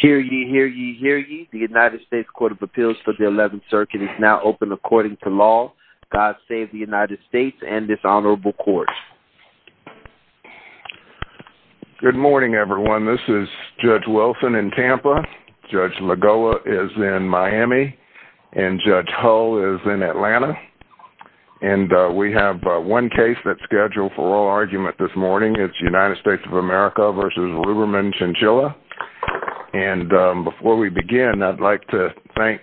Hear ye, hear ye, hear ye. The United States Court of Appeals for the 11th Circuit is now open according to law. God save the United States and this honorable court. Good morning everyone. This is Judge Wilson in Tampa, Judge Lagoa is in Miami, and Judge Hull is in Atlanta. And we have one case that's scheduled for oral argument this morning. It's United States of America v. Ruberman Chinchilla. And before we begin, I'd like to thank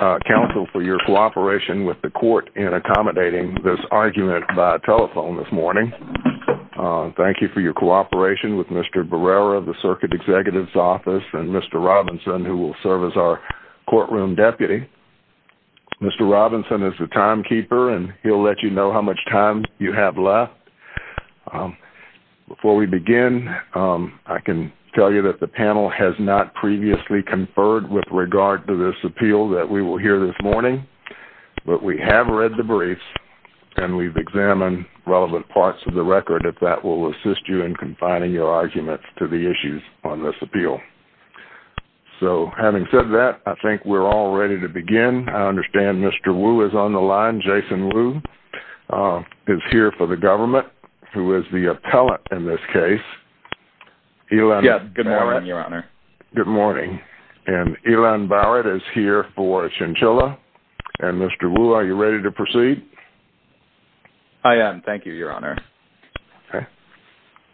counsel for your cooperation with the court in accommodating this argument by telephone this morning. Thank you for your cooperation with Mr. Barrera, the Circuit Executive's office, and Mr. Robinson, who will serve as our courtroom deputy. Mr. Robinson is the timekeeper and he'll let you know how much time you have left. Before we begin, I can tell you that the panel has not previously conferred with regard to this appeal that we will hear this morning. But we have read the briefs and we've examined relevant parts of the record if that will assist you in confining your arguments to the issues on this appeal. So, having said that, I think we're all ready to begin. I understand Mr. Wu is on the line. Jason Wu is here for the government, who is the appellate in this case. Yes, good morning, Your Honor. Good morning. And Elan Barrett is here for Chinchilla. And Mr. Wu, are you ready to proceed? I am. Thank you, Your Honor.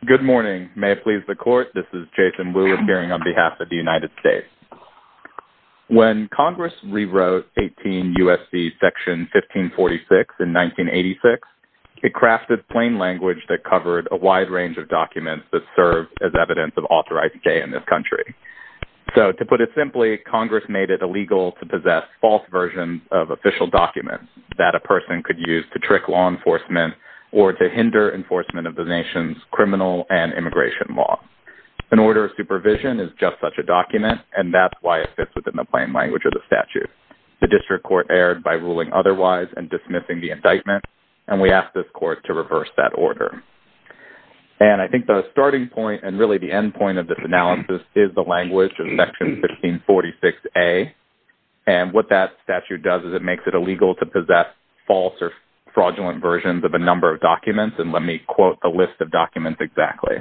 Good morning. May it please the Court, this is Jason Wu appearing on behalf of the United States. When Congress rewrote 18 U.S.C. section 1546 in 1986, it crafted plain language that covered a wide range of documents that served as evidence of authorized gay in this country. So, to put it simply, Congress made it illegal to possess false versions of official documents that a person could use to trick law enforcement or to hinder enforcement of the nation's criminal and immigration law. An order of supervision is just such a document, and that's why it fits within the plain language of the statute. The district court erred by ruling otherwise and dismissing the indictment, and we ask this Court to reverse that order. And I think the starting point and really the end point of this analysis is the language of section 1546A, and what that statute does is it makes it illegal to possess false or fraudulent versions of a number of documents. And let me quote the list of documents exactly.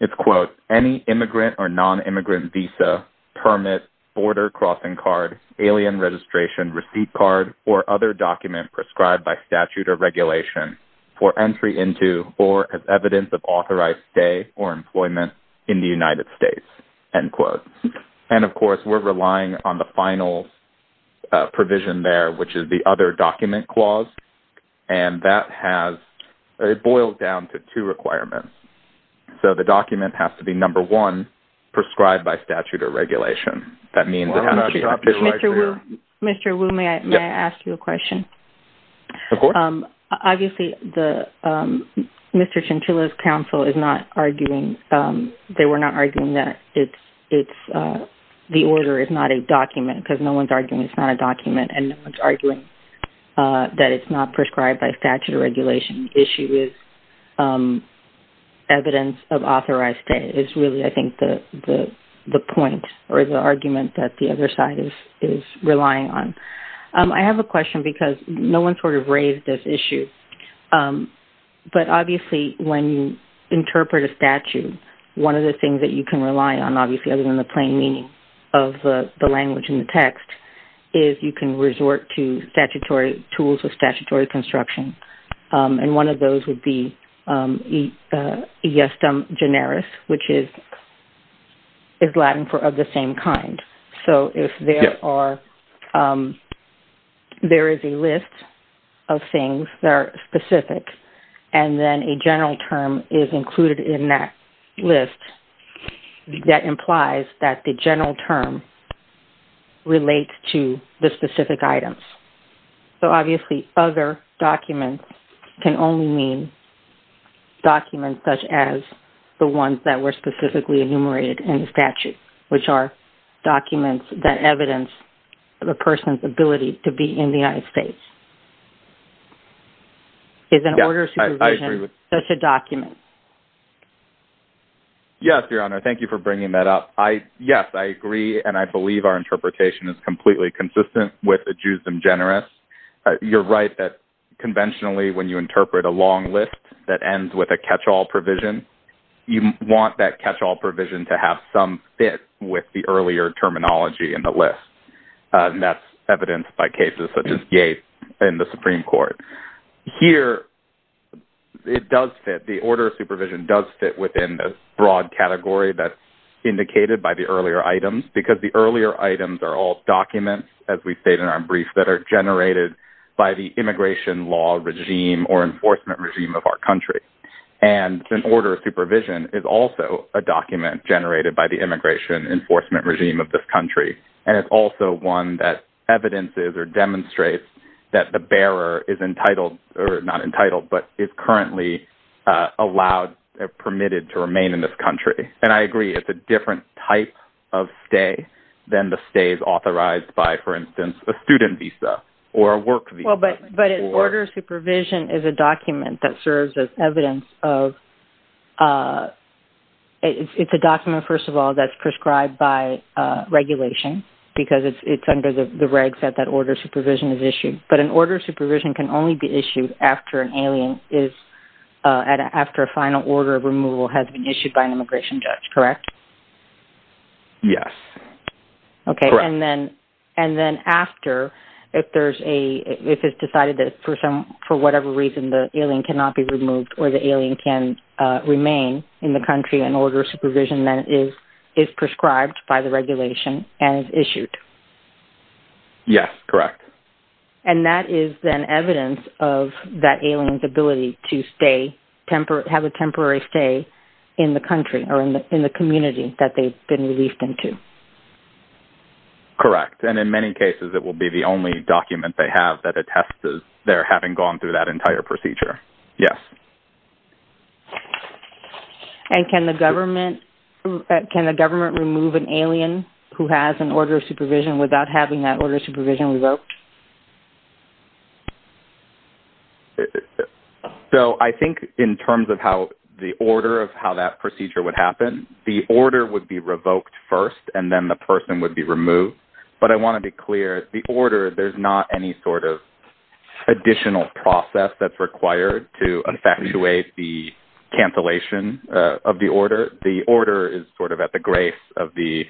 It's, quote, any immigrant or non-immigrant visa, permit, border crossing card, alien registration, receipt card, or other document prescribed by statute or regulation for entry into or as evidence of authorized stay or employment in the United States, end quote. And, of course, we're relying on the final provision there, which is the other document clause, and that has – it boils down to two requirements. So, the document has to be, number one, prescribed by statute or regulation. That means – Mr. Wu, may I ask you a question? Of course. Obviously, the – Mr. Chinchilla's counsel is not arguing – they were not arguing that it's – the order is not a document, because no one's arguing it's not a document, and no one's arguing that it's not prescribed by statute or regulation. The issue is evidence of authorized stay is really, I think, the point or the argument that the other side is relying on. I have a question, because no one sort of raised this issue, but obviously when you interpret a statute, one of the things that you can rely on, obviously, other than the plain meaning of the language in the text, is you can resort to statutory tools of statutory construction, and one of those would be iestem generis, which is Latin for of the same kind. So, if there are – there is a list of things that are specific, and then a general term is included in that list, that implies that the general term relates to the specific items. So, obviously, other documents can only mean documents such as the ones that were specifically enumerated in the statute, which are documents that evidence the person's ability to be in the United States. Is an order supervision such a document? Yes, Your Honor. Thank you for bringing that up. Yes, I agree, and I believe our interpretation is completely consistent with iestem generis. You're right that conventionally when you fit with the earlier terminology in the list, and that's evidenced by cases such as Yates in the Supreme Court. Here, it does fit, the order of supervision does fit within the broad category that's indicated by the earlier items, because the earlier items are all documents, as we stated in our brief, that are generated by the immigration law regime or enforcement regime of our country. And an order of supervision is also a document generated by the immigration enforcement regime of this country, and it's also one that evidences or demonstrates that the bearer is entitled – or not entitled, but is currently allowed – permitted to remain in this country. And I agree, it's a different type of stay than the stays authorized by, for instance, a student visa or a work visa. Well, but an order of supervision is a document that serves as evidence of – it's a document, first of all, that's prescribed by regulation, because it's under the regs that that order of supervision is issued. But an order of supervision can only be issued after an alien is – after a final order of removal has been issued by an immigration judge, correct? Yes. Okay, and then – and then after, if there's a – if it's decided that, for whatever reason, the alien cannot be removed or the alien can remain in the country, an order of supervision then is prescribed by the regulation and is issued. Yes, correct. And that is then evidence of that alien's ability to stay – have a temporary stay in the country or in the community that they've been released into. Correct. And in many cases, it will be the only document they have that attests to their having gone through that entire procedure. Yes. And can the government – can the government remove an alien who has an order of supervision without having that order of supervision revoked? So, I think in terms of how the order of how that procedure would happen, the order would be revoked first, and then the person would be removed. But I want to be clear, the order – there's not any sort of additional process that's required to effectuate the cancellation of the order. The order is sort of at the grace of the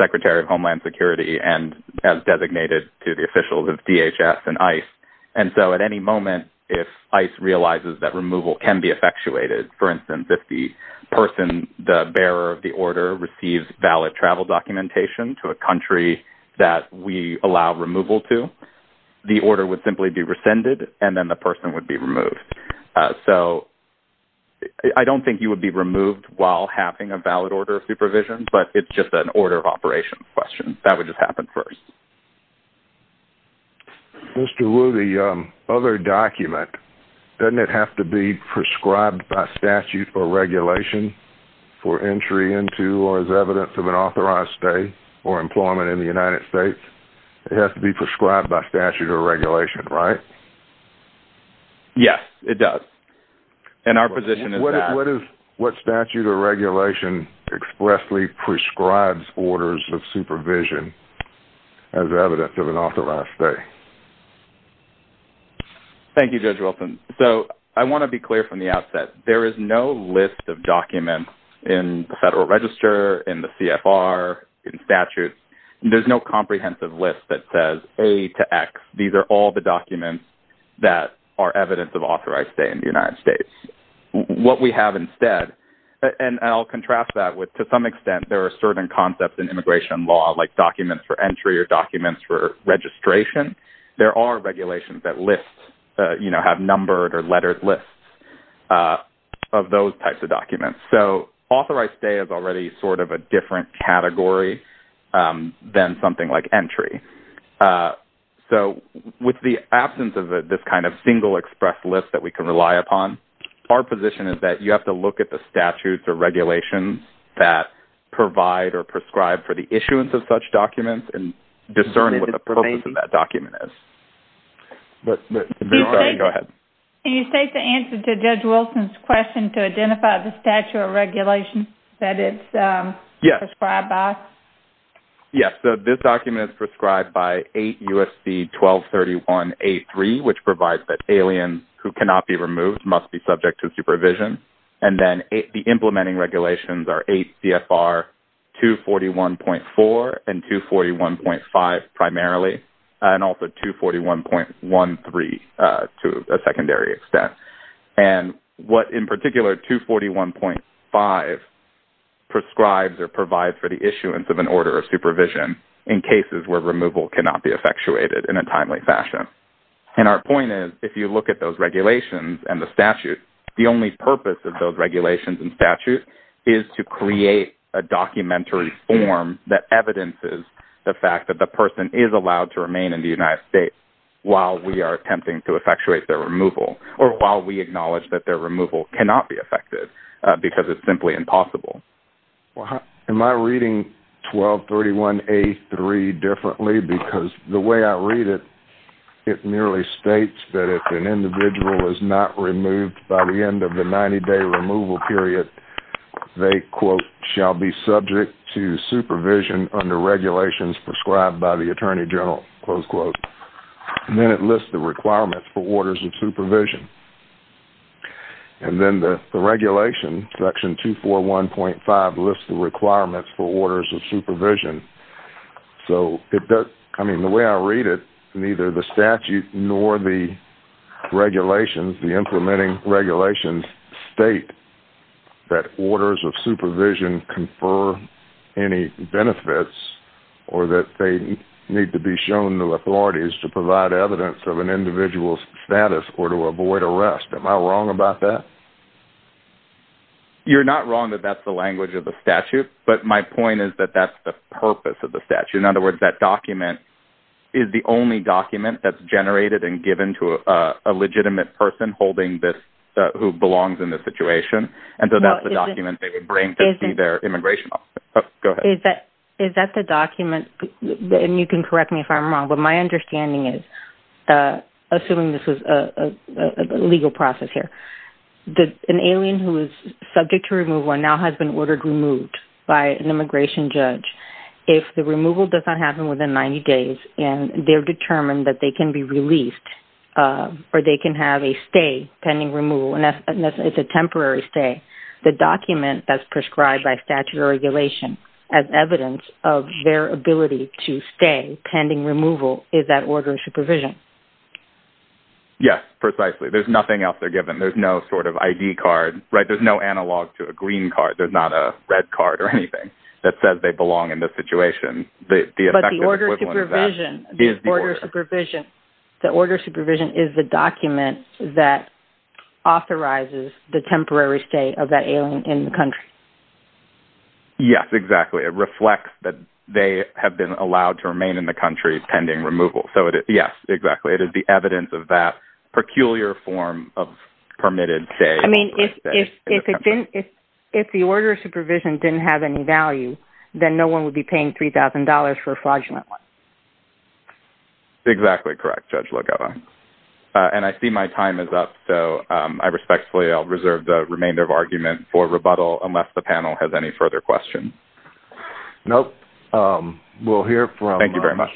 Secretary of Homeland Security and as designated to the officials of DHS and ICE. And so, at any moment, if ICE realizes that removal can be effectuated, for instance, if the person, the bearer of the order, receives valid travel documentation to a country that we allow removal to, the order would simply be rescinded, and then the person would be removed. So, I don't think you would be removed while having a valid order of supervision, but it's just an order of operation question. That would just happen first. Mr. Wu, the other document, doesn't it have to be prescribed by statute or regulation for entry into or as evidence of an authorized stay or employment in the United States? It has to be prescribed by statute or regulation, right? Yes, it does. And our position is that – it directly prescribes orders of supervision as evidence of an authorized stay. Thank you, Judge Wilson. So, I want to be clear from the outset. There is no list of documents in the Federal Register, in the CFR, in statute. There's no comprehensive list that says A to X. These are all the documents that are evidence of authorized stay in the United States. To some extent, there are certain concepts in immigration law, like documents for entry or documents for registration. There are regulations that list, you know, have numbered or lettered lists of those types of documents. So, authorized stay is already sort of a different category than something like entry. So, with the absence of this kind of single express list that we can rely upon, our position is that you have to look at the statutes or regulations that provide or prescribe for the issuance of such documents and discern what the purpose of that document is. Can you state the answer to Judge Wilson's question to identify the statute or regulation that it's prescribed by? Yes. So, this document is prescribed by 8 U.S.C. 1231-A3, which provides that aliens who cannot be removed must be subject to supervision. And then the implementing regulations are 8 CFR 241.4 and 241.5 primarily, and also 241.13 to a secondary extent. And what, in particular, 241.5 prescribes or provides for the issuance of an order of supervision in cases where removal cannot be effectuated in a timely fashion. And our point is, if you look at those regulations and the statute, the only purpose of those regulations and statute is to create a documentary form that evidences the fact that the person is allowed to remain in the United States while we are attempting to effectuate their removal, or while we acknowledge that their removal cannot be effected because it's simply impossible. Am I reading 1231-A3 differently? Because the way I read it, it merely states that if an individual is not removed by the end of the 90-day removal period, they, quote, shall be subject to supervision under regulations prescribed by the Attorney General, close quote. And then it lists the requirements for orders of supervision. And then the regulation, section 241.5, lists the requirements for orders of supervision. So, I mean, the way I read it, neither the statute nor the regulations, the implementing regulations, state that orders of supervision confer any benefits or that they need to be put away to rest. Am I wrong about that? You're not wrong that that's the language of the statute, but my point is that that's the purpose of the statute. In other words, that document is the only document that's generated and given to a legitimate person holding this, who belongs in this situation. And so that's the document they would bring to see their immigration officer. Is that the document, and you can correct me if I'm wrong, but my understanding is, assuming this is a legal process here, an alien who is subject to removal and now has been ordered removed by an immigration judge, if the removal does not happen within 90 days and they're determined that they can be released or they can have a stay pending removal, and it's a temporary stay, the document that's prescribed by statute or regulation as evidence of their ability to stay pending removal, is that order of supervision? Yes, precisely. There's nothing else they're given. There's no sort of ID card. There's no analog to a green card. There's not a red card or anything that says they belong in this situation. But the order of supervision is the document that authorizes the temporary stay of that alien in the country. Yes, exactly. It reflects that they have been allowed to remain in the country pending removal. So, yes, exactly. It is the evidence of that peculiar form of permitted stay. I mean, if the order of supervision didn't have any value, then no one would be paying $3,000 for a fraudulent one. Exactly correct, Judge Logeva. And I see my time is up, so I respectfully reserve the remainder of argument for rebuttal unless the panel has any further questions. Nope. We'll hear from Mr. Barat. Thank you very much.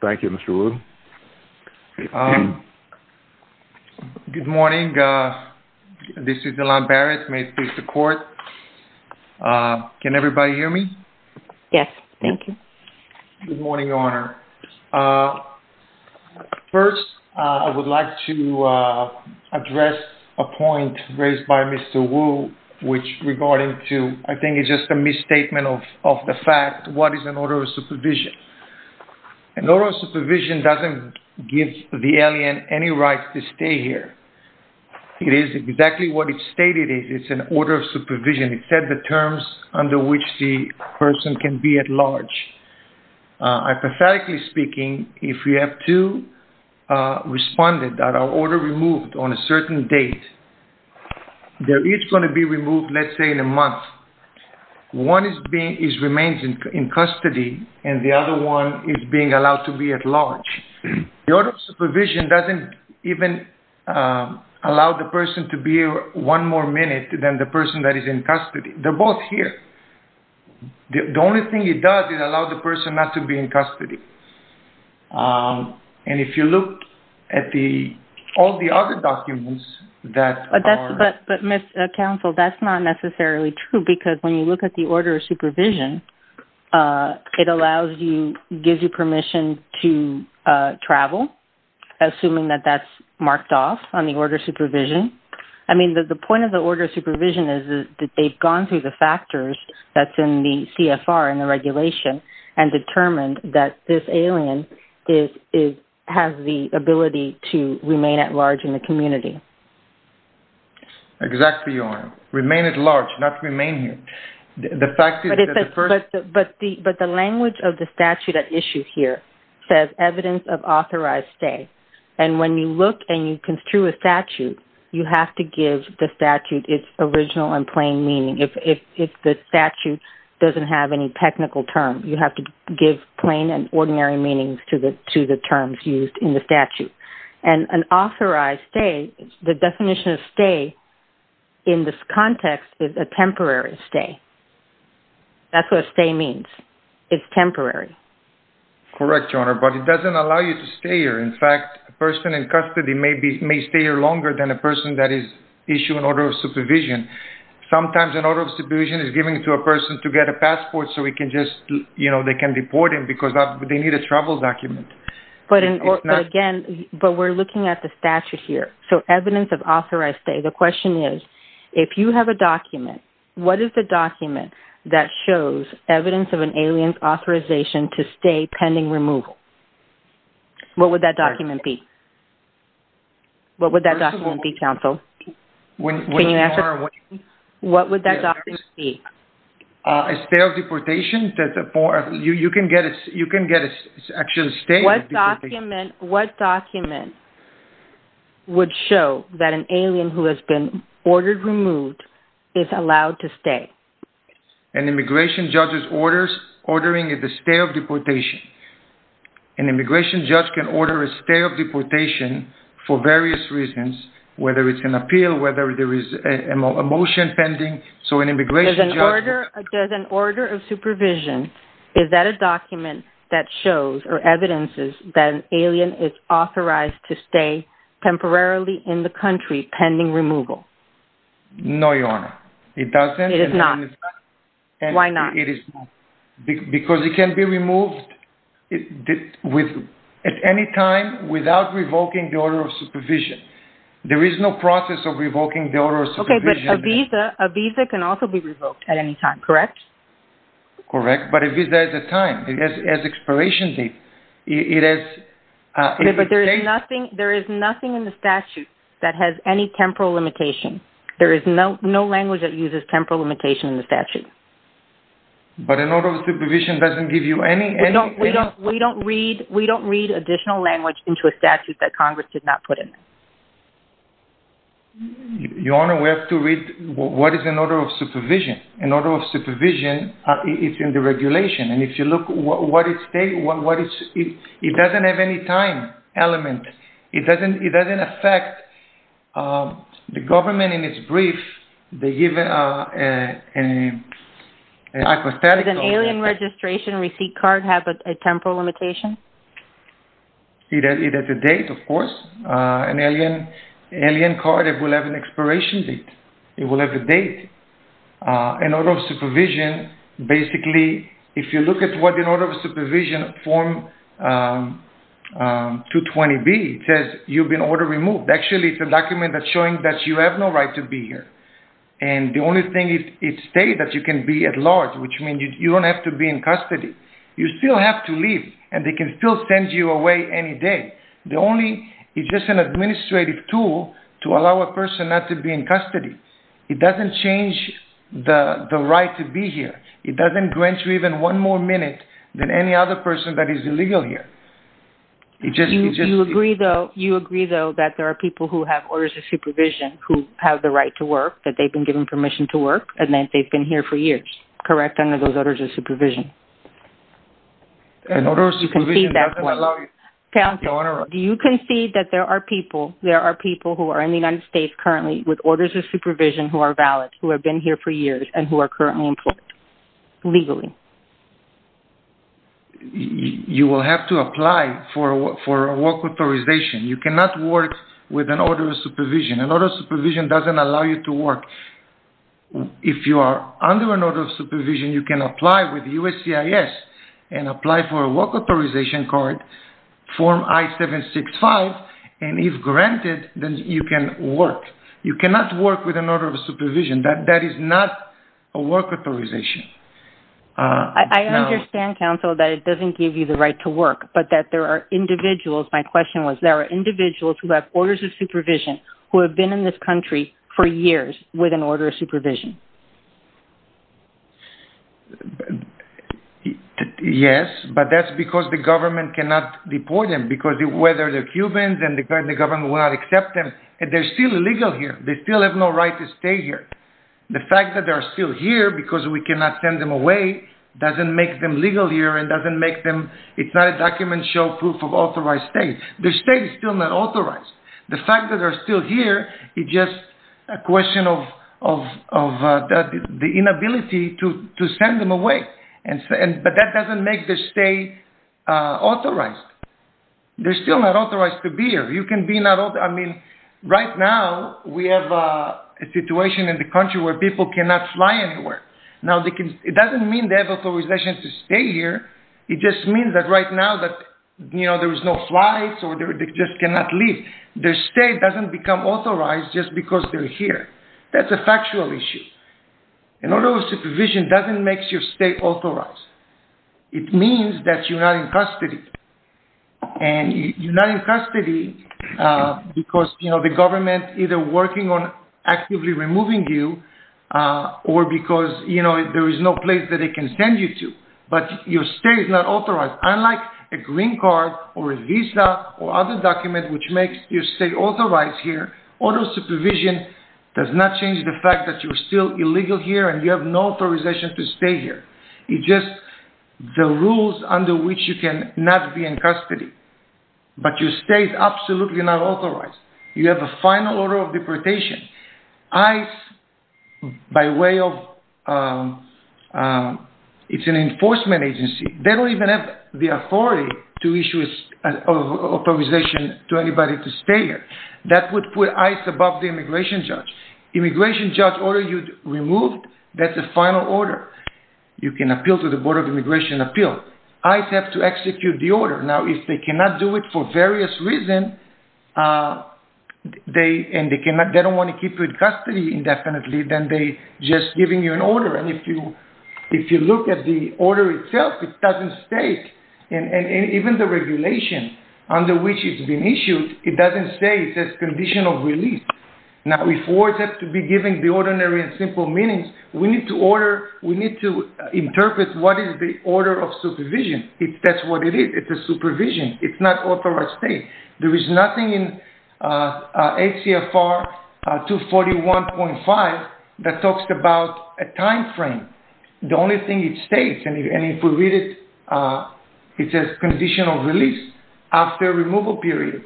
Thank you, Mr. Wu. Good morning. This is Delon Barrett. May it please the court. Can everybody hear me? Yes, thank you. Good morning, Your Honor. First, I would like to address a point raised by Mr. Wu, which regarding to, I think it's just a misstatement of the fact what is an order of supervision. An order of supervision doesn't give the alien any right to stay here. It is exactly what it stated is. It's an order of supervision. It said the terms under which the person can be at large. Hypothetically speaking, if you have two respondents that are order removed on a certain date, they're each going to be removed, let's say, in a month. One remains in custody, and the other one is being allowed to be at large. The order of supervision doesn't even allow the person to be one more minute than the other. Everything it does is allow the person not to be in custody. And if you look at all the other documents that are... But, Mr. Counsel, that's not necessarily true, because when you look at the order of supervision, it allows you, gives you permission to travel, assuming that that's marked off on the order of supervision. I mean, the point of the order of supervision is that they've gone through the factors that's in the CFR and the regulation and determined that this alien has the ability to remain at large in the community. Exactly, Your Honor. Remain at large, not remain here. The fact is that the first... But the language of the statute at issue here says evidence of authorized stay. And when you look and you construe a statute, you have to give the statute its original and plain meaning. If the statute doesn't have any technical term, you have to give plain and ordinary meanings to the terms used in the statute. And an authorized stay, the definition of stay in this context is a temporary stay. That's what a stay means. It's temporary. Correct, Your Honor. But it doesn't allow you to stay here. In fact, a person in custody may stay here longer than a person that is issued an order of supervision. Sometimes an order of supervision is given to a person to get a passport so we can just, you know, they can deport him because they need a travel document. But again, but we're looking at the statute here. So evidence of authorized stay. The question is, if you have a document, what is the document that shows evidence of an alien being removed? What would that document be? What would that document be, counsel? Can you answer? What would that document be? A stay of deportation. You can get a stay of deportation. What document would show that an alien who has been ordered removed is allowed to stay? An immigration judge's ordering is a stay of deportation. An immigration judge can order a stay of deportation for various reasons, whether it's an appeal, whether there is a motion pending. So an immigration judge... Does an order of supervision, is that a document that shows or evidences that an alien is authorized to stay temporarily in the country pending removal? No, Your Honor. It doesn't. It is not. Why not? It is not. Because it can be removed at any time without revoking the order of supervision. There is no process of revoking the order of supervision. Okay, but a visa can also be revoked at any time, correct? Correct. But a visa is a time. It has expiration date. It has... Okay, but there is nothing in the statute that has any temporal limitation. There is no language that uses temporal limitation in the statute. But an order of supervision doesn't give you any... We don't read additional language into a statute that Congress did not put in. Your Honor, we have to read what is an order of supervision. An order of supervision is in the regulation. And if you look at what it states, it doesn't have any time element. Okay. It doesn't affect... The government in its brief, they give an aquastatic... Does an alien registration receipt card have a temporal limitation? It has a date, of course. An alien card will have an expiration date. It will have a date. An order of supervision, basically, if you look at what an order of supervision form 220B says, you've been order removed. Actually, it's a document that's showing that you have no right to be here. And the only thing, it states that you can be at large, which means you don't have to be in custody. You still have to leave, and they can still send you away any day. It's just an administrative tool to allow a person not to be in custody. It doesn't change the right to be here. It doesn't grant you even one more minute than any other person that is illegal here. You agree, though, that there are people who have orders of supervision who have the right to work, that they've been given permission to work, and that they've been here for years, correct, under those orders of supervision? An order of supervision doesn't allow you... Counselor, do you concede that there are people, there are people who are in the United States currently with orders of supervision who are valid, who have been here for years, and who are currently employed legally? You will have to apply for a work authorization. You cannot work with an order of supervision. An order of supervision doesn't allow you to work. If you are under an order of supervision, you can apply with USCIS and apply for a work authorization card, form I-765, and if granted, then you can work. You cannot work with an order of supervision. That is not a work authorization. I understand, Counselor, that it doesn't give you the right to work, but that there are individuals, my question was, there are individuals who have orders of supervision who have been in this country for years with an order of supervision. Yes, but that's because the government cannot deport them, because whether they're Cubans and the government will not accept them, they're still illegal here. They still have no right to stay here. The fact that they're still here because we cannot send them away doesn't make them legal here and doesn't make them... it's not a document show proof of authorized stay. Their stay is still not authorized. The fact that they're still here is just a question of the inability to send them away, but that doesn't make their stay authorized. They're still not authorized to be here. You can be not... I mean, right now we have a situation in the country where people cannot fly anywhere. Now, it doesn't mean they have authorization to stay here. It just means that right now that, you know, there is no flights or they just cannot leave. Their stay doesn't become authorized just because they're here. That's a factual issue. An order of supervision doesn't make your stay authorized. It means that you're not in custody, and you're not in custody because, you know, the government either working on actively removing you or because, you know, there is no place that they can send you to, but your stay is not authorized. Unlike a green card or a visa or other document which makes your stay authorized here, order of supervision does not change the fact that you're still illegal here and you have no authorization to stay here. It's just the rules under which you cannot be in custody, but your stay is absolutely not authorized. You have a final order of deportation. ICE, by way of... It's an enforcement agency. They don't even have the authority to issue an authorization to anybody to stay here. That would put ICE above the immigration judge. Immigration judge says, okay, that's the final order you removed. That's the final order. You can appeal to the Board of Immigration and Appeal. ICE has to execute the order. Now, if they cannot do it for various reasons, and they don't want to keep you in custody indefinitely, then they're just giving you an order. And if you look at the order itself, it doesn't state, and even the regulation under which it's been issued, it doesn't say it's a condition of release. Now, if words have to be given the ordinary and simple meanings, we need to interpret what is the order of supervision, if that's what it is. It's a supervision. It's not authorized stay. There is nothing in HCFR 241.5 that talks about a time frame. The only thing it states, and if we read it, it says condition of release after removal period.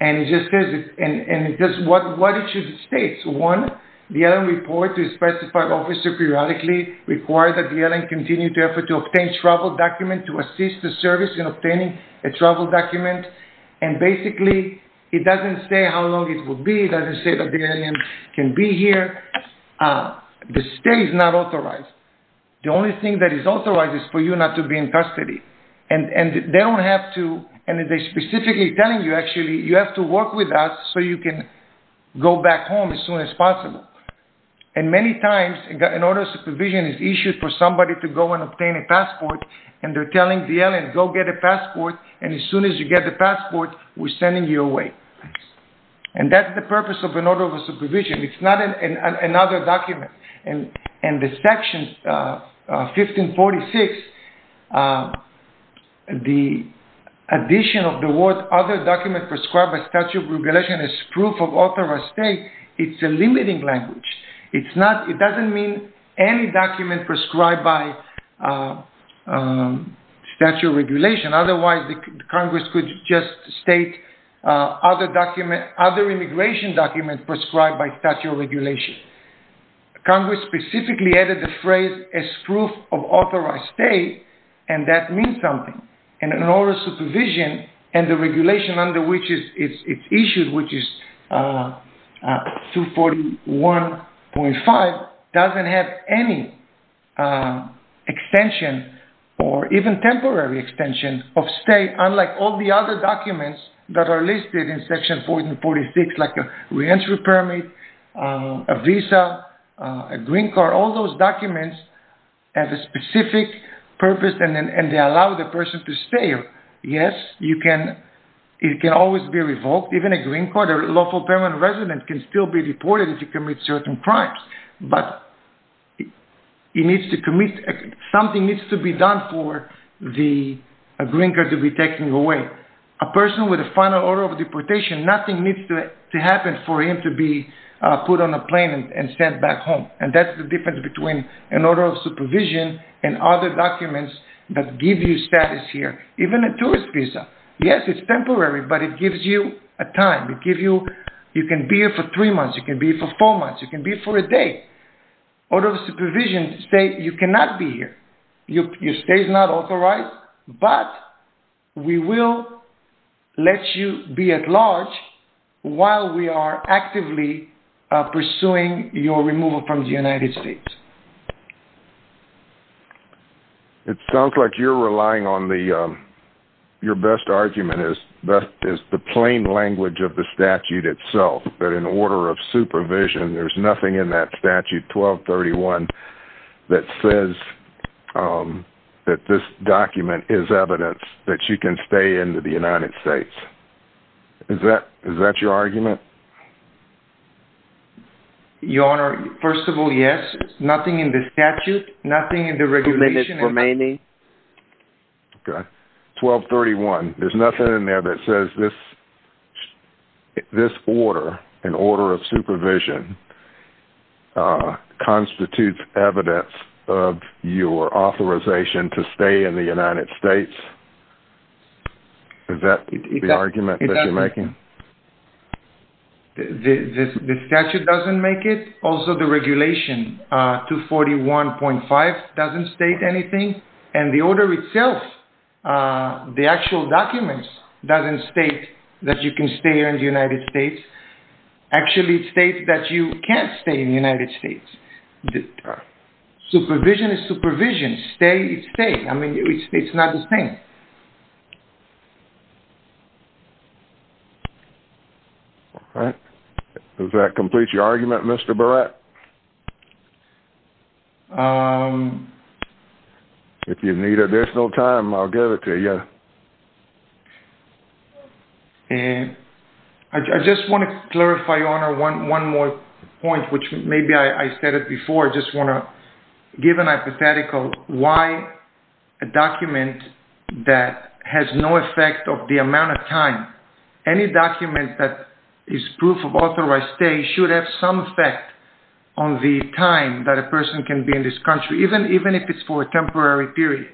And it just says what it should state. One, the LN report to specify officer periodically requires that the LN continue to effort to obtain travel documents to assist the service in obtaining a travel document. And basically, it doesn't say how long it will be. It doesn't say that the LN can be here. The stay is not authorized. The only thing that is authorized is for you not to be in custody. And they don't have to, and they're specifically telling you, actually, you have to work with us so you can go back home as soon as possible. And many times, an order of supervision is issued for somebody to go and obtain a passport, and they're telling the LN, go get a passport, and as soon as you get the passport, we're sending you away. And that's the purpose of an order of supervision. It's not another document. And the section 1546, the addition of the word other document prescribed by statute of regulation is proof of authorized stay. It's a limiting language. It doesn't mean any document prescribed by statute of regulation. Otherwise, Congress could just state other immigration documents prescribed by statute of regulation. Congress specifically added the phrase as proof of authorized stay, and that means something. And an order of supervision and the regulation under which it's issued, which is 241.5, doesn't have any extension or even temporary extension of stay, unlike all the other documents that are listed in states, like a re-entry permit, a visa, a green card, all those documents have a specific purpose, and they allow the person to stay. Yes, it can always be revoked. Even a green card, a lawful permanent resident can still be deported if you commit certain crimes. But something needs to be done for the green card to be taken away. A person with a final order of deportation, nothing needs to happen for him to be put on a plane and sent back home. And that's the difference between an order of supervision and other documents that give you status here. Even a tourist visa. Yes, it's temporary, but it gives you a time. You can be here for three months. You can be here for four months. You can be here for a day. Order of supervision states you cannot be here. Your stay is not authorized, but we will let you be at large while we are actively pursuing your removal from the United States. It sounds like you're relying on the, your best argument is the plain language of the statute itself, that in order of supervision, there's nothing in that statute 1231 that says that this document is evidence that you can stay in the United States. Is that your argument? Your Honor, first of all, yes. Nothing in the statute, nothing in the regulations remaining. Okay. 1231, there's nothing in there that says this, this order, an order of supervision, constitutes evidence of your authorization to stay in the United States. Is that the argument that you're making? The statute doesn't make it. Also, the regulation 241.5 doesn't state anything. And the order itself, the actual documents, doesn't state that you can stay here in the United States. Actually, it states that you can't stay in the United States. Supervision is supervision. Stay is stay. I mean, it's not the same. All right. Does that complete your argument, Mr. Barrett? If you need additional time, I'll give it to you. I just want to clarify, Your Honor, one more point, which maybe I said it before. I just want to give an hypothetical why a document that has no effect of the amount of time, any document that is proof of authorized stay should have some effect on the time that a person can be in this country, even if it's for a temporary period.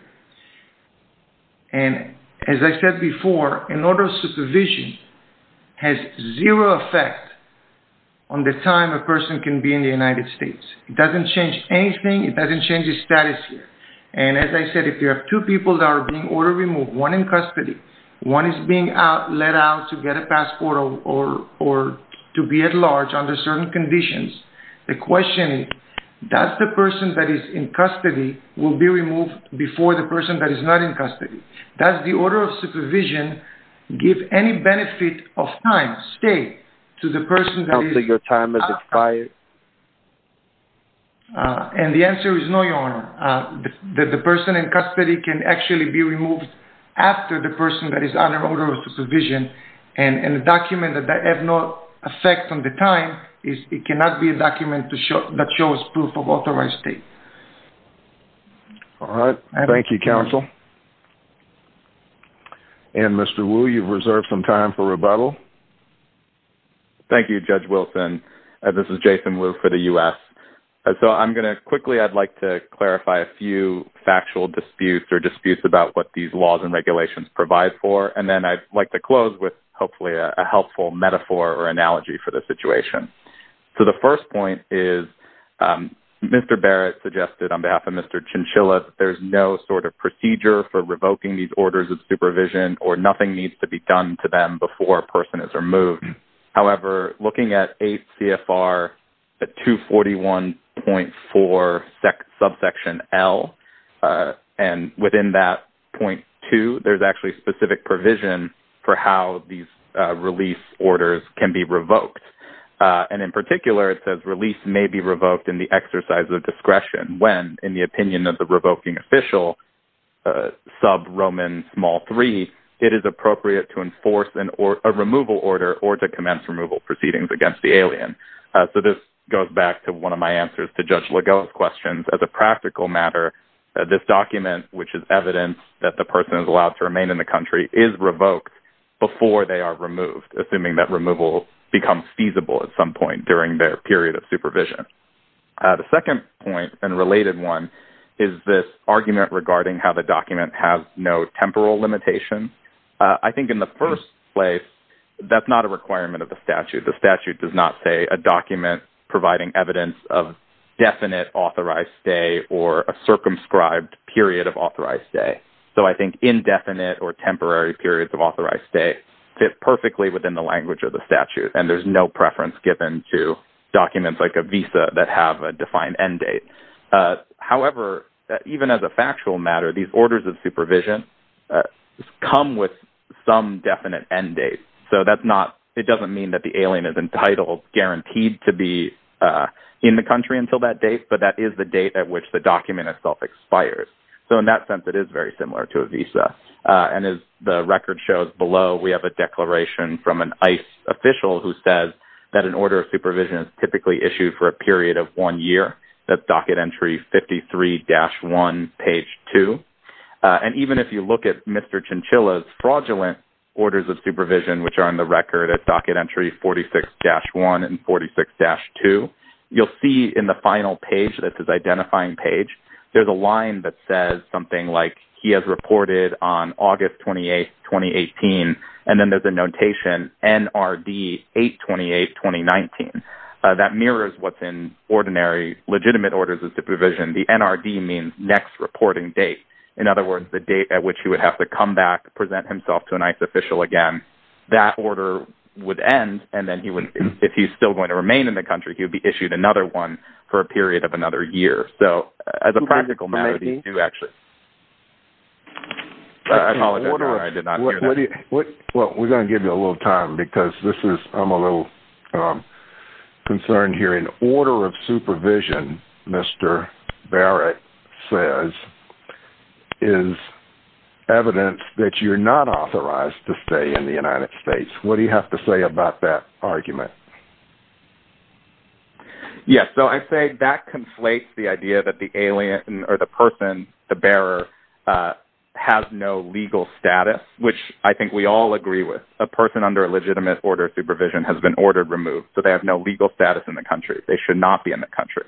And as I said before, an order of supervision has zero effect on the time a person can be in the United States. It doesn't change anything. It doesn't change the status here. And as I said, if you have two people that are being ordered removed, one in custody, one is being let out to get a passport or to be at large under certain conditions, the question is, does the person that is in custody will be removed before the person that is not in custody? Does the document give any benefit of time, stay, to the person that is... I don't think your time is expired. And the answer is no, Your Honor. The person in custody can actually be removed after the person that is under order of supervision. And a document that has no effect on the time is it cannot be a document that shows proof of authorized stay. All right. Thank you, Counsel. And Mr. Wu, you've reserved some time for rebuttal. Thank you, Judge Wilson. This is Jason Wu for the U.S. So I'm going to quickly, I'd like to clarify a few factual disputes or disputes about what these laws and regulations provide for. And then I'd like to close with, hopefully, a helpful metaphor or analogy for the situation. So the first point is, Mr. Barrett suggested on behalf of Mr. Chinchilla that there's no sort of procedure for revoking these orders of supervision or nothing needs to be done to them before a person is removed. However, looking at 8 CFR 241.4 subsection L, and within that .2, there's actually specific provision for how these release orders can be revoked. And in particular, it says release may be revoked in the exercise of discretion when, in the opinion of the revoking official, sub Roman small three, it is appropriate to enforce a removal order or to commence removal proceedings against the alien. So this goes back to one of my answers to Judge Legault's questions. As a practical matter, this document, which is evidence that the person is allowed to remain in the country, is revoked before they are removed, assuming that removal becomes feasible at some point during their period of supervision. The second point, and related one, is this argument regarding how the document has no temporal limitation. I think in the first place, that's not a requirement of the statute. The statute does not say a document providing evidence of definite authorized stay or a circumscribed period of authorized stay. So I think indefinite or temporary periods of authorized stay fit perfectly within the defined end date. However, even as a factual matter, these orders of supervision come with some definite end date. So that's not, it doesn't mean that the alien is entitled, guaranteed to be in the country until that date, but that is the date at which the document itself expires. So in that sense, it is very similar to a visa. And as the record shows below, we have a declaration from an ICE official who says that an authorized stay period of one year, that's Docket Entry 53-1, page 2. And even if you look at Mr. Chinchilla's fraudulent orders of supervision, which are on the record at Docket Entry 46-1 and 46-2, you'll see in the final page, that's his identifying page, there's a line that says something like, he has reported on August 28, 2018, and then there's a notation, NRD 828, 2019. That mirrors what's in ordinary legitimate orders of supervision. The NRD means next reporting date. In other words, the date at which he would have to come back, present himself to an ICE official again, that order would end. And then he wouldn't, if he's still going to remain in the country, he would be issued another one for a period of another year. So as a practical matter, these do actually. I apologize, I did not hear that. Well, we're going to give you a little time because this is, I'm a little concerned here. In order of supervision, Mr. Barrett says, is evidence that you're not authorized to stay in the United States. What do you have to say about that argument? Yes, so I say that conflates the idea that the alien or the person, the bearer, has no legal status, which I think we all agree with. A person under a legitimate order of supervision has been ordered removed. So they have no legal status in the country. They should not be in the country.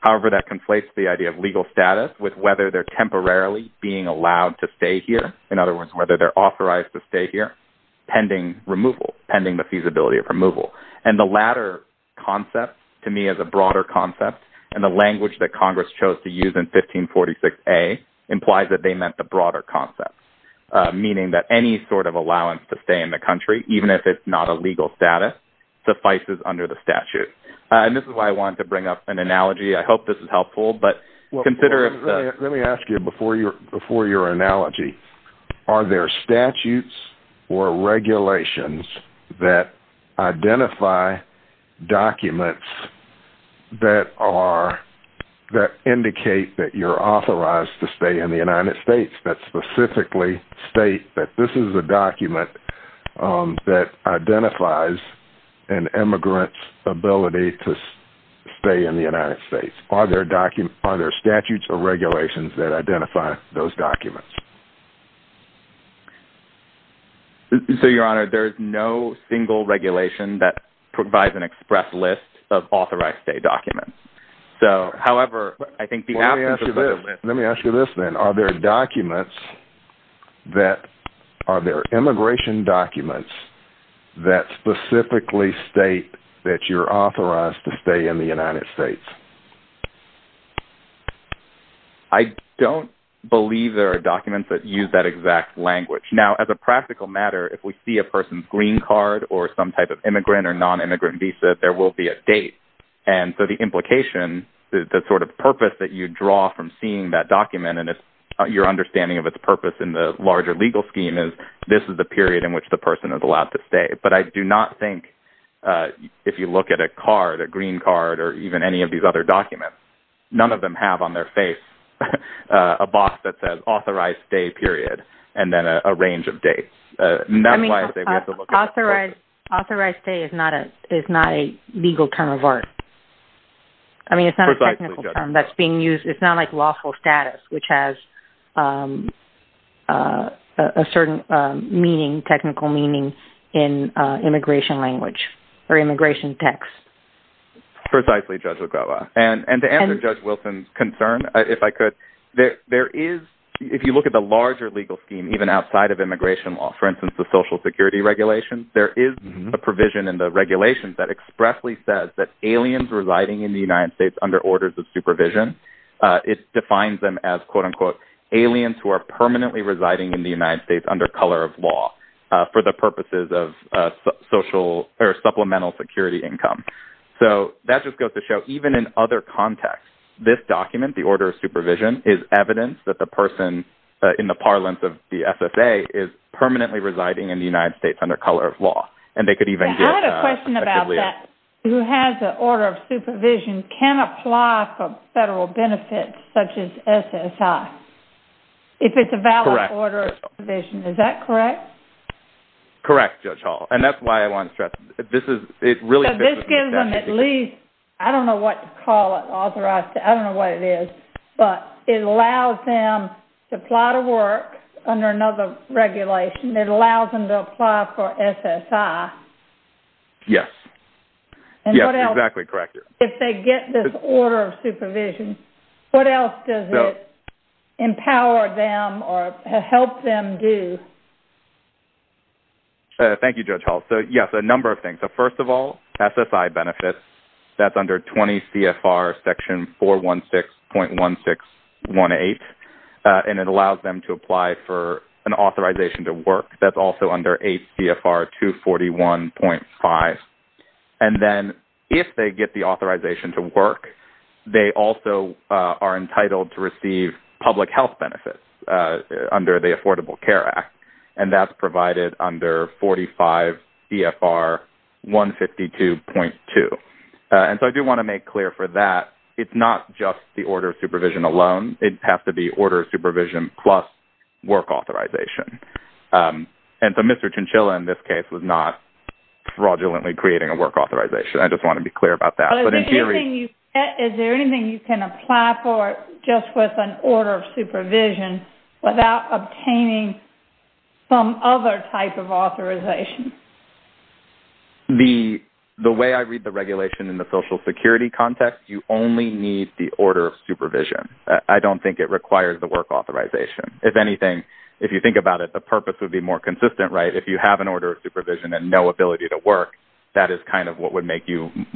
However, that conflates the idea of legal status with whether they're temporarily being allowed to stay here. In other words, whether they're authorized to stay here pending removal, pending the feasibility of removal. And the latter concept, to me, is a broader concept. And the language that Congress chose to use in 1546A implies that they meant the broader concept, meaning that any sort of allowance to stay in the country, even if it's not a legal status, suffices under the statute. And this is why I wanted to bring up an analogy. I hope this is helpful. Let me ask you before your analogy. Are there statutes or regulations that identify documents that indicate that you're authorized to stay in the United States? That specifically state that this is a document that identifies an immigrant's ability to stay in the United States? Are there statutes or regulations that identify those documents? So, Your Honor, there's no single regulation that provides an express list of authorized stay documents. Let me ask you this, then. Are there immigration documents that specifically state that you're authorized to stay in the United States? I don't believe there are documents that use that exact language. Now, as a practical matter, if we see a person's green card or some type of immigrant or non-immigrant visa, there will be a date. And so the implication, the sort of purpose that you draw from seeing that document and your understanding of its purpose in the larger legal scheme is this is the period in which the person is allowed to stay. But I do not think if you look at a card, a green card, or even any of these other documents, none of them have on their face a box that says authorized stay period and then a range of dates. I mean, authorized stay is not a legal term of art. I mean, it's not a technical term that's being used. It's not like lawful status, which has a certain meaning, technical meaning, in immigration language or immigration text. Precisely, Judge Wigawa. And to answer Judge Wilson's concern, if I could, there is, if you look at the larger legal scheme, even outside of immigration law, for instance, the social security regulations, there is a provision in the regulations that expressly says that aliens residing in the United States under orders of supervision, it defines them as, quote-unquote, aliens who are permanently residing in the United States under color of law for the purposes of social or supplemental security income. So that just goes to show even in other contexts, this document, the order of supervision, is evidence that the person in the parlance of the SSA is permanently residing in the United States under color of law. I had a question about that. Who has an order of supervision can apply for federal benefits, such as SSI, if it's a valid order of supervision. Is that correct? Correct, Judge Hall. And that's why I want to stress this. So this gives them at least, I don't know what to call it, authorized, I don't know It allows them to apply to work under another regulation. It allows them to apply for SSI. Yes. Yes, exactly correct. If they get this order of supervision, what else does it empower them or help them do? Thank you, Judge Hall. So, yes, a number of things. So first of all, SSI benefits, that's under 20 CFR section 416.1618. And it allows them to apply for an authorization to work. That's also under 8 CFR 241.5. And then if they get the authorization to work, they also are entitled to receive public health benefits under the Affordable Care Act. And that's provided under 45 EFR 152.2. And so I do want to make clear for that, it's not just the order of supervision alone. It has to be order of supervision plus work authorization. And so Mr. Chinchilla, in this case, was not fraudulently creating a work authorization. I just want to be clear about that. Is there anything you can apply for just with an order of supervision without obtaining some other type of authorization? The way I read the regulation in the Social Security context, you only need the order of supervision. I don't think it requires the work authorization. If anything, if you think about it, the purpose would be more consistent, right? If you have an order of supervision and no ability to work, that is kind of what would give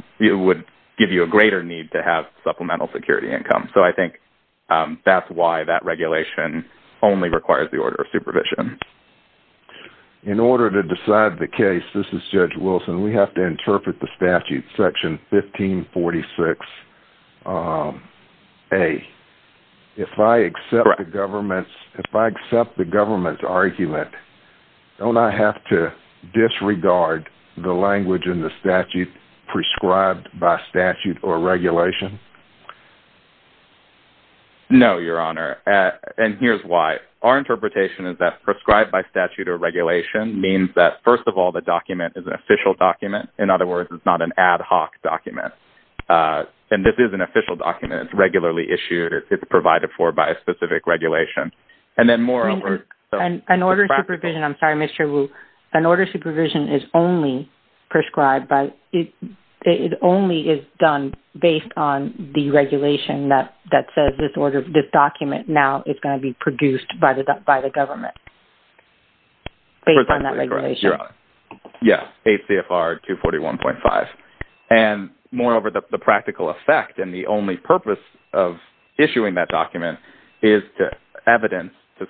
you a greater need to have supplemental security income. So I think that's why that regulation only requires the order of supervision. In order to decide the case, this is Judge Wilson, we have to interpret the statute, Section 1546A. If I accept the government's argument, don't I have to disregard the language in the statute as prescribed by statute or regulation? No, Your Honor. And here's why. Our interpretation is that prescribed by statute or regulation means that, first of all, the document is an official document. In other words, it's not an ad hoc document. And this is an official document. It's regularly issued. It's provided for by a specific regulation. And then more... An order of supervision, I'm sorry, Mr. Wu. An order of supervision is only prescribed by... It only is done based on the regulation that says this document now is going to be produced by the government based on that regulation. Yes, ACFR 241.5. And moreover, the practical effect and the only purpose of issuing that document is to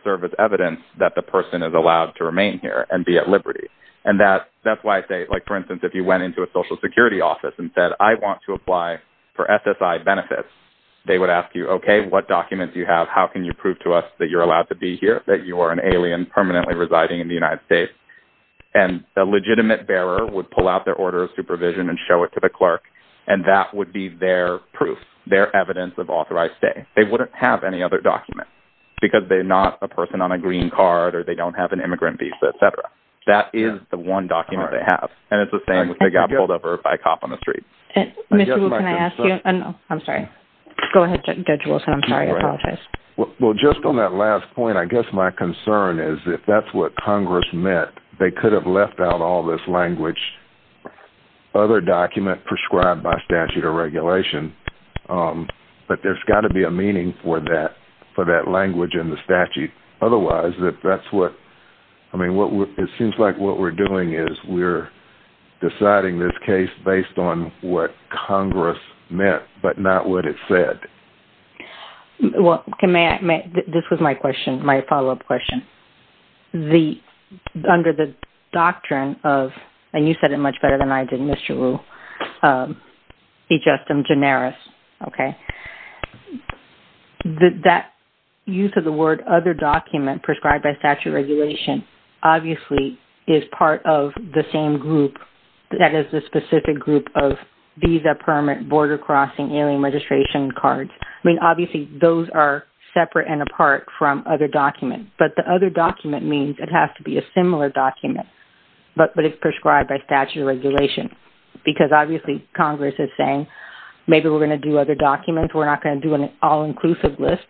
serve as evidence that the person is allowed to remain here and be at liberty. And that's why I say, for instance, if you went into a Social Security office and said, I want to apply for SSI benefits, they would ask you, okay, what document do you have? How can you prove to us that you're allowed to be here, that you are an alien permanently residing in the United States? And a legitimate bearer would pull out their order of supervision and show it to the clerk, and that would be their proof, their evidence of authorized stay. They wouldn't have any other document because they're not a person on a green card or they don't have an immigrant visa, et cetera. That is the one document they have. And it's the same if they got pulled over by a cop on the street. Mr. Wu, can I ask you... I'm sorry. Go ahead, Judge Wilson. I'm sorry. I apologize. Well, just on that last point, I guess my concern is if that's what Congress meant, they could have left out all this language, other document prescribed by statute or regulation. But there's got to be a meaning for that language in the statute. Otherwise, that's what... I mean, it seems like what we're doing is we're deciding this case based on what Congress meant but not what it said. Well, may I... This was my question, my follow-up question. Under the doctrine of, and you said it much better than I did, Mr. Wu, ejustem generis, okay, that use of the word other document prescribed by statute or regulation obviously is part of the same group that is the specific group of visa permit, border crossing, alien registration cards. I mean, obviously, those are separate and apart from other documents. But the other document means it has to be a similar document but it's prescribed by statute because obviously Congress is saying maybe we're going to do other documents. We're not going to do an all-inclusive list.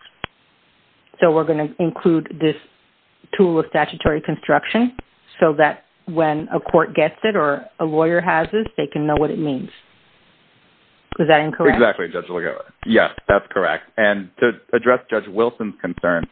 So we're going to include this tool of statutory construction so that when a court gets it or a lawyer has it, they can know what it means. Is that incorrect? Exactly, Judge Lugovic. Yes, that's correct. And to address Judge Wilson's concern,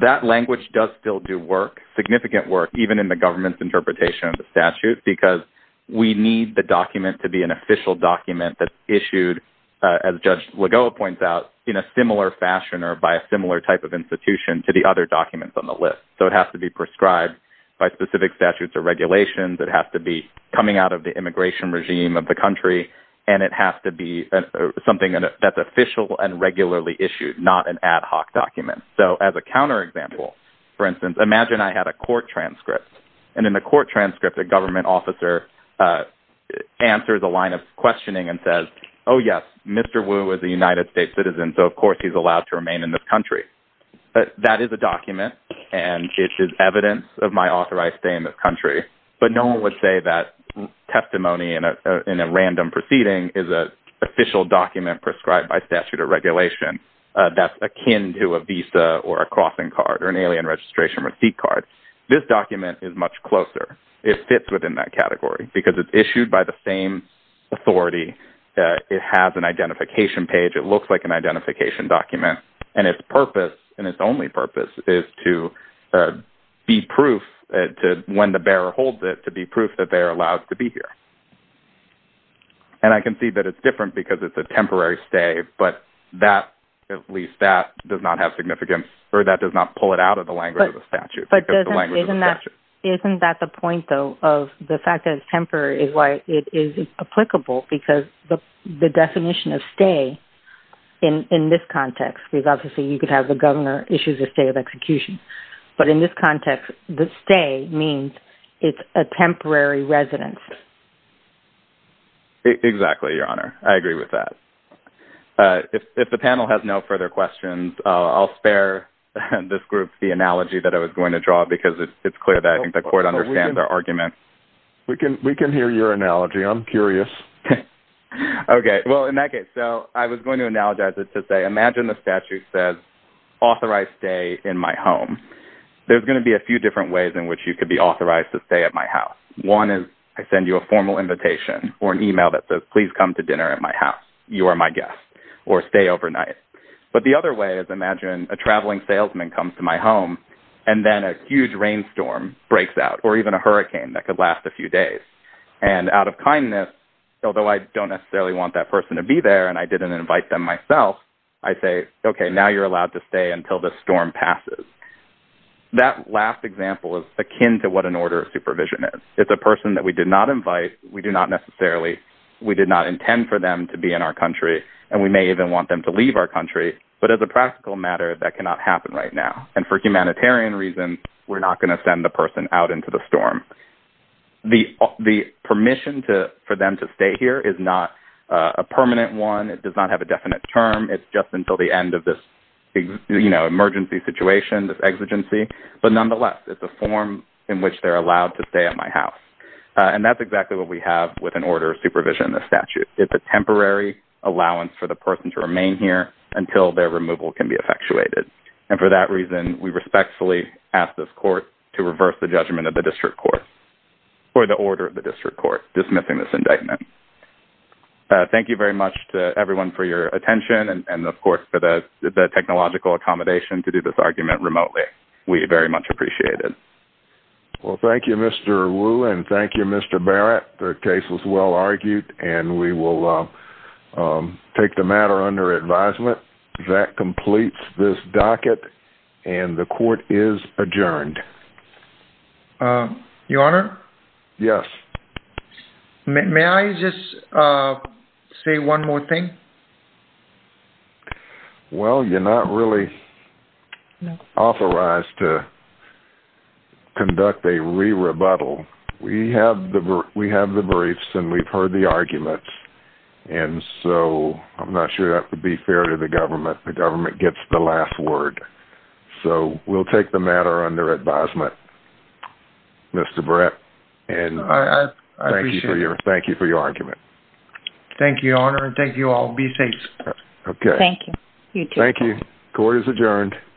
that language does still do work, significant work, even in the government's interpretation of the statute, because we need the document to be an official document that's issued, as Judge Lugovic points out, in a similar fashion or by a similar type of institution to the other documents on the list. So it has to be prescribed by specific statutes or regulations. It has to be coming out of the immigration regime of the country. And it has to be something that's official and regularly issued, not an ad hoc document. So as a counterexample, for instance, imagine I had a court transcript. And in the court transcript, a government officer answers a line of questioning and says, oh, yes, Mr. Wu is a United States citizen, so of course he's allowed to remain in this country. That is a document, and it is evidence of my authorized stay in this country. But no one would say that testimony in a random proceeding is an official document prescribed by statute or regulation that's akin to a visa or a crossing card or an alien registration receipt card. This document is much closer. It fits within that category, because it's issued by the same authority. It has an identification page. It looks like an identification document. And its purpose, and its only purpose, is to be proof, when the bearer holds it, to be proof that they're allowed to be here. And I can see that it's different because it's a temporary stay, but that, at least that, does not have significance, or that does not pull it out of the language of the statute. Isn't that the point, though, of the fact that it's temporary is why it is applicable, because the definition of stay in this context, because obviously you could have the governor issue a state of execution. But in this context, the stay means it's a temporary residence. Exactly, Your Honor. I agree with that. If the panel has no further questions, I'll spare this group the analogy that I was going to draw, because it's clear that I think the court understands our argument. We can hear your analogy. I'm curious. Okay. Well, in that case, so I was going to analogize it to say, imagine the statute says, authorize you to stay in my home. There's going to be a few different ways in which you could be authorized to stay at my house. One is I send you a formal invitation or an email that says, please come to dinner at my house. You are my guest, or stay overnight. But the other way is imagine a traveling salesman comes to my home, and then a huge rainstorm breaks out, or even a hurricane that could last a few days. And out of kindness, although I don't necessarily want that person to be there and I didn't invite them myself, I say, okay, now you're allowed to stay until the storm passes. That last example is akin to what an order of supervision is. It's a person that we did not invite. We do not necessarily, we did not intend for them to be in our country. And we may even want them to leave our country. But as a practical matter, that cannot happen right now. And for humanitarian reasons, we're not going to send the person out into the storm. The permission for them to stay here is not a permanent one. It does not have a definite term. It's just until the end of this emergency situation, this exigency. But nonetheless, it's a form in which they're allowed to stay at my house. And that's exactly what we have with an order of supervision in the statute. It's a temporary allowance for the person to remain here until their removal can be effectuated. And for that reason, we respectfully ask this court to reverse the judgment of the district court, or the order of the district court dismissing this indictment. Thank you very much to everyone for your attention. And of course, for the technological accommodation to do this argument remotely. We very much appreciate it. Well, thank you, Mr. Wu. And thank you, Mr. Barrett. The case was well argued. And we will take the matter under advisement. That completes this docket. And the court is adjourned. Your Honor? Yes. May I just say one more thing? Well, you're not really authorized to conduct a re-rebuttal. We have the briefs, and we've heard the arguments. And so I'm not sure that would be fair to the government. The government gets the last word. So we'll take the matter under advisement, Mr. Barrett. I appreciate it. And thank you for your argument. Thank you, Your Honor. And thank you all. Be safe. Okay. Thank you. Thank you. Court is adjourned.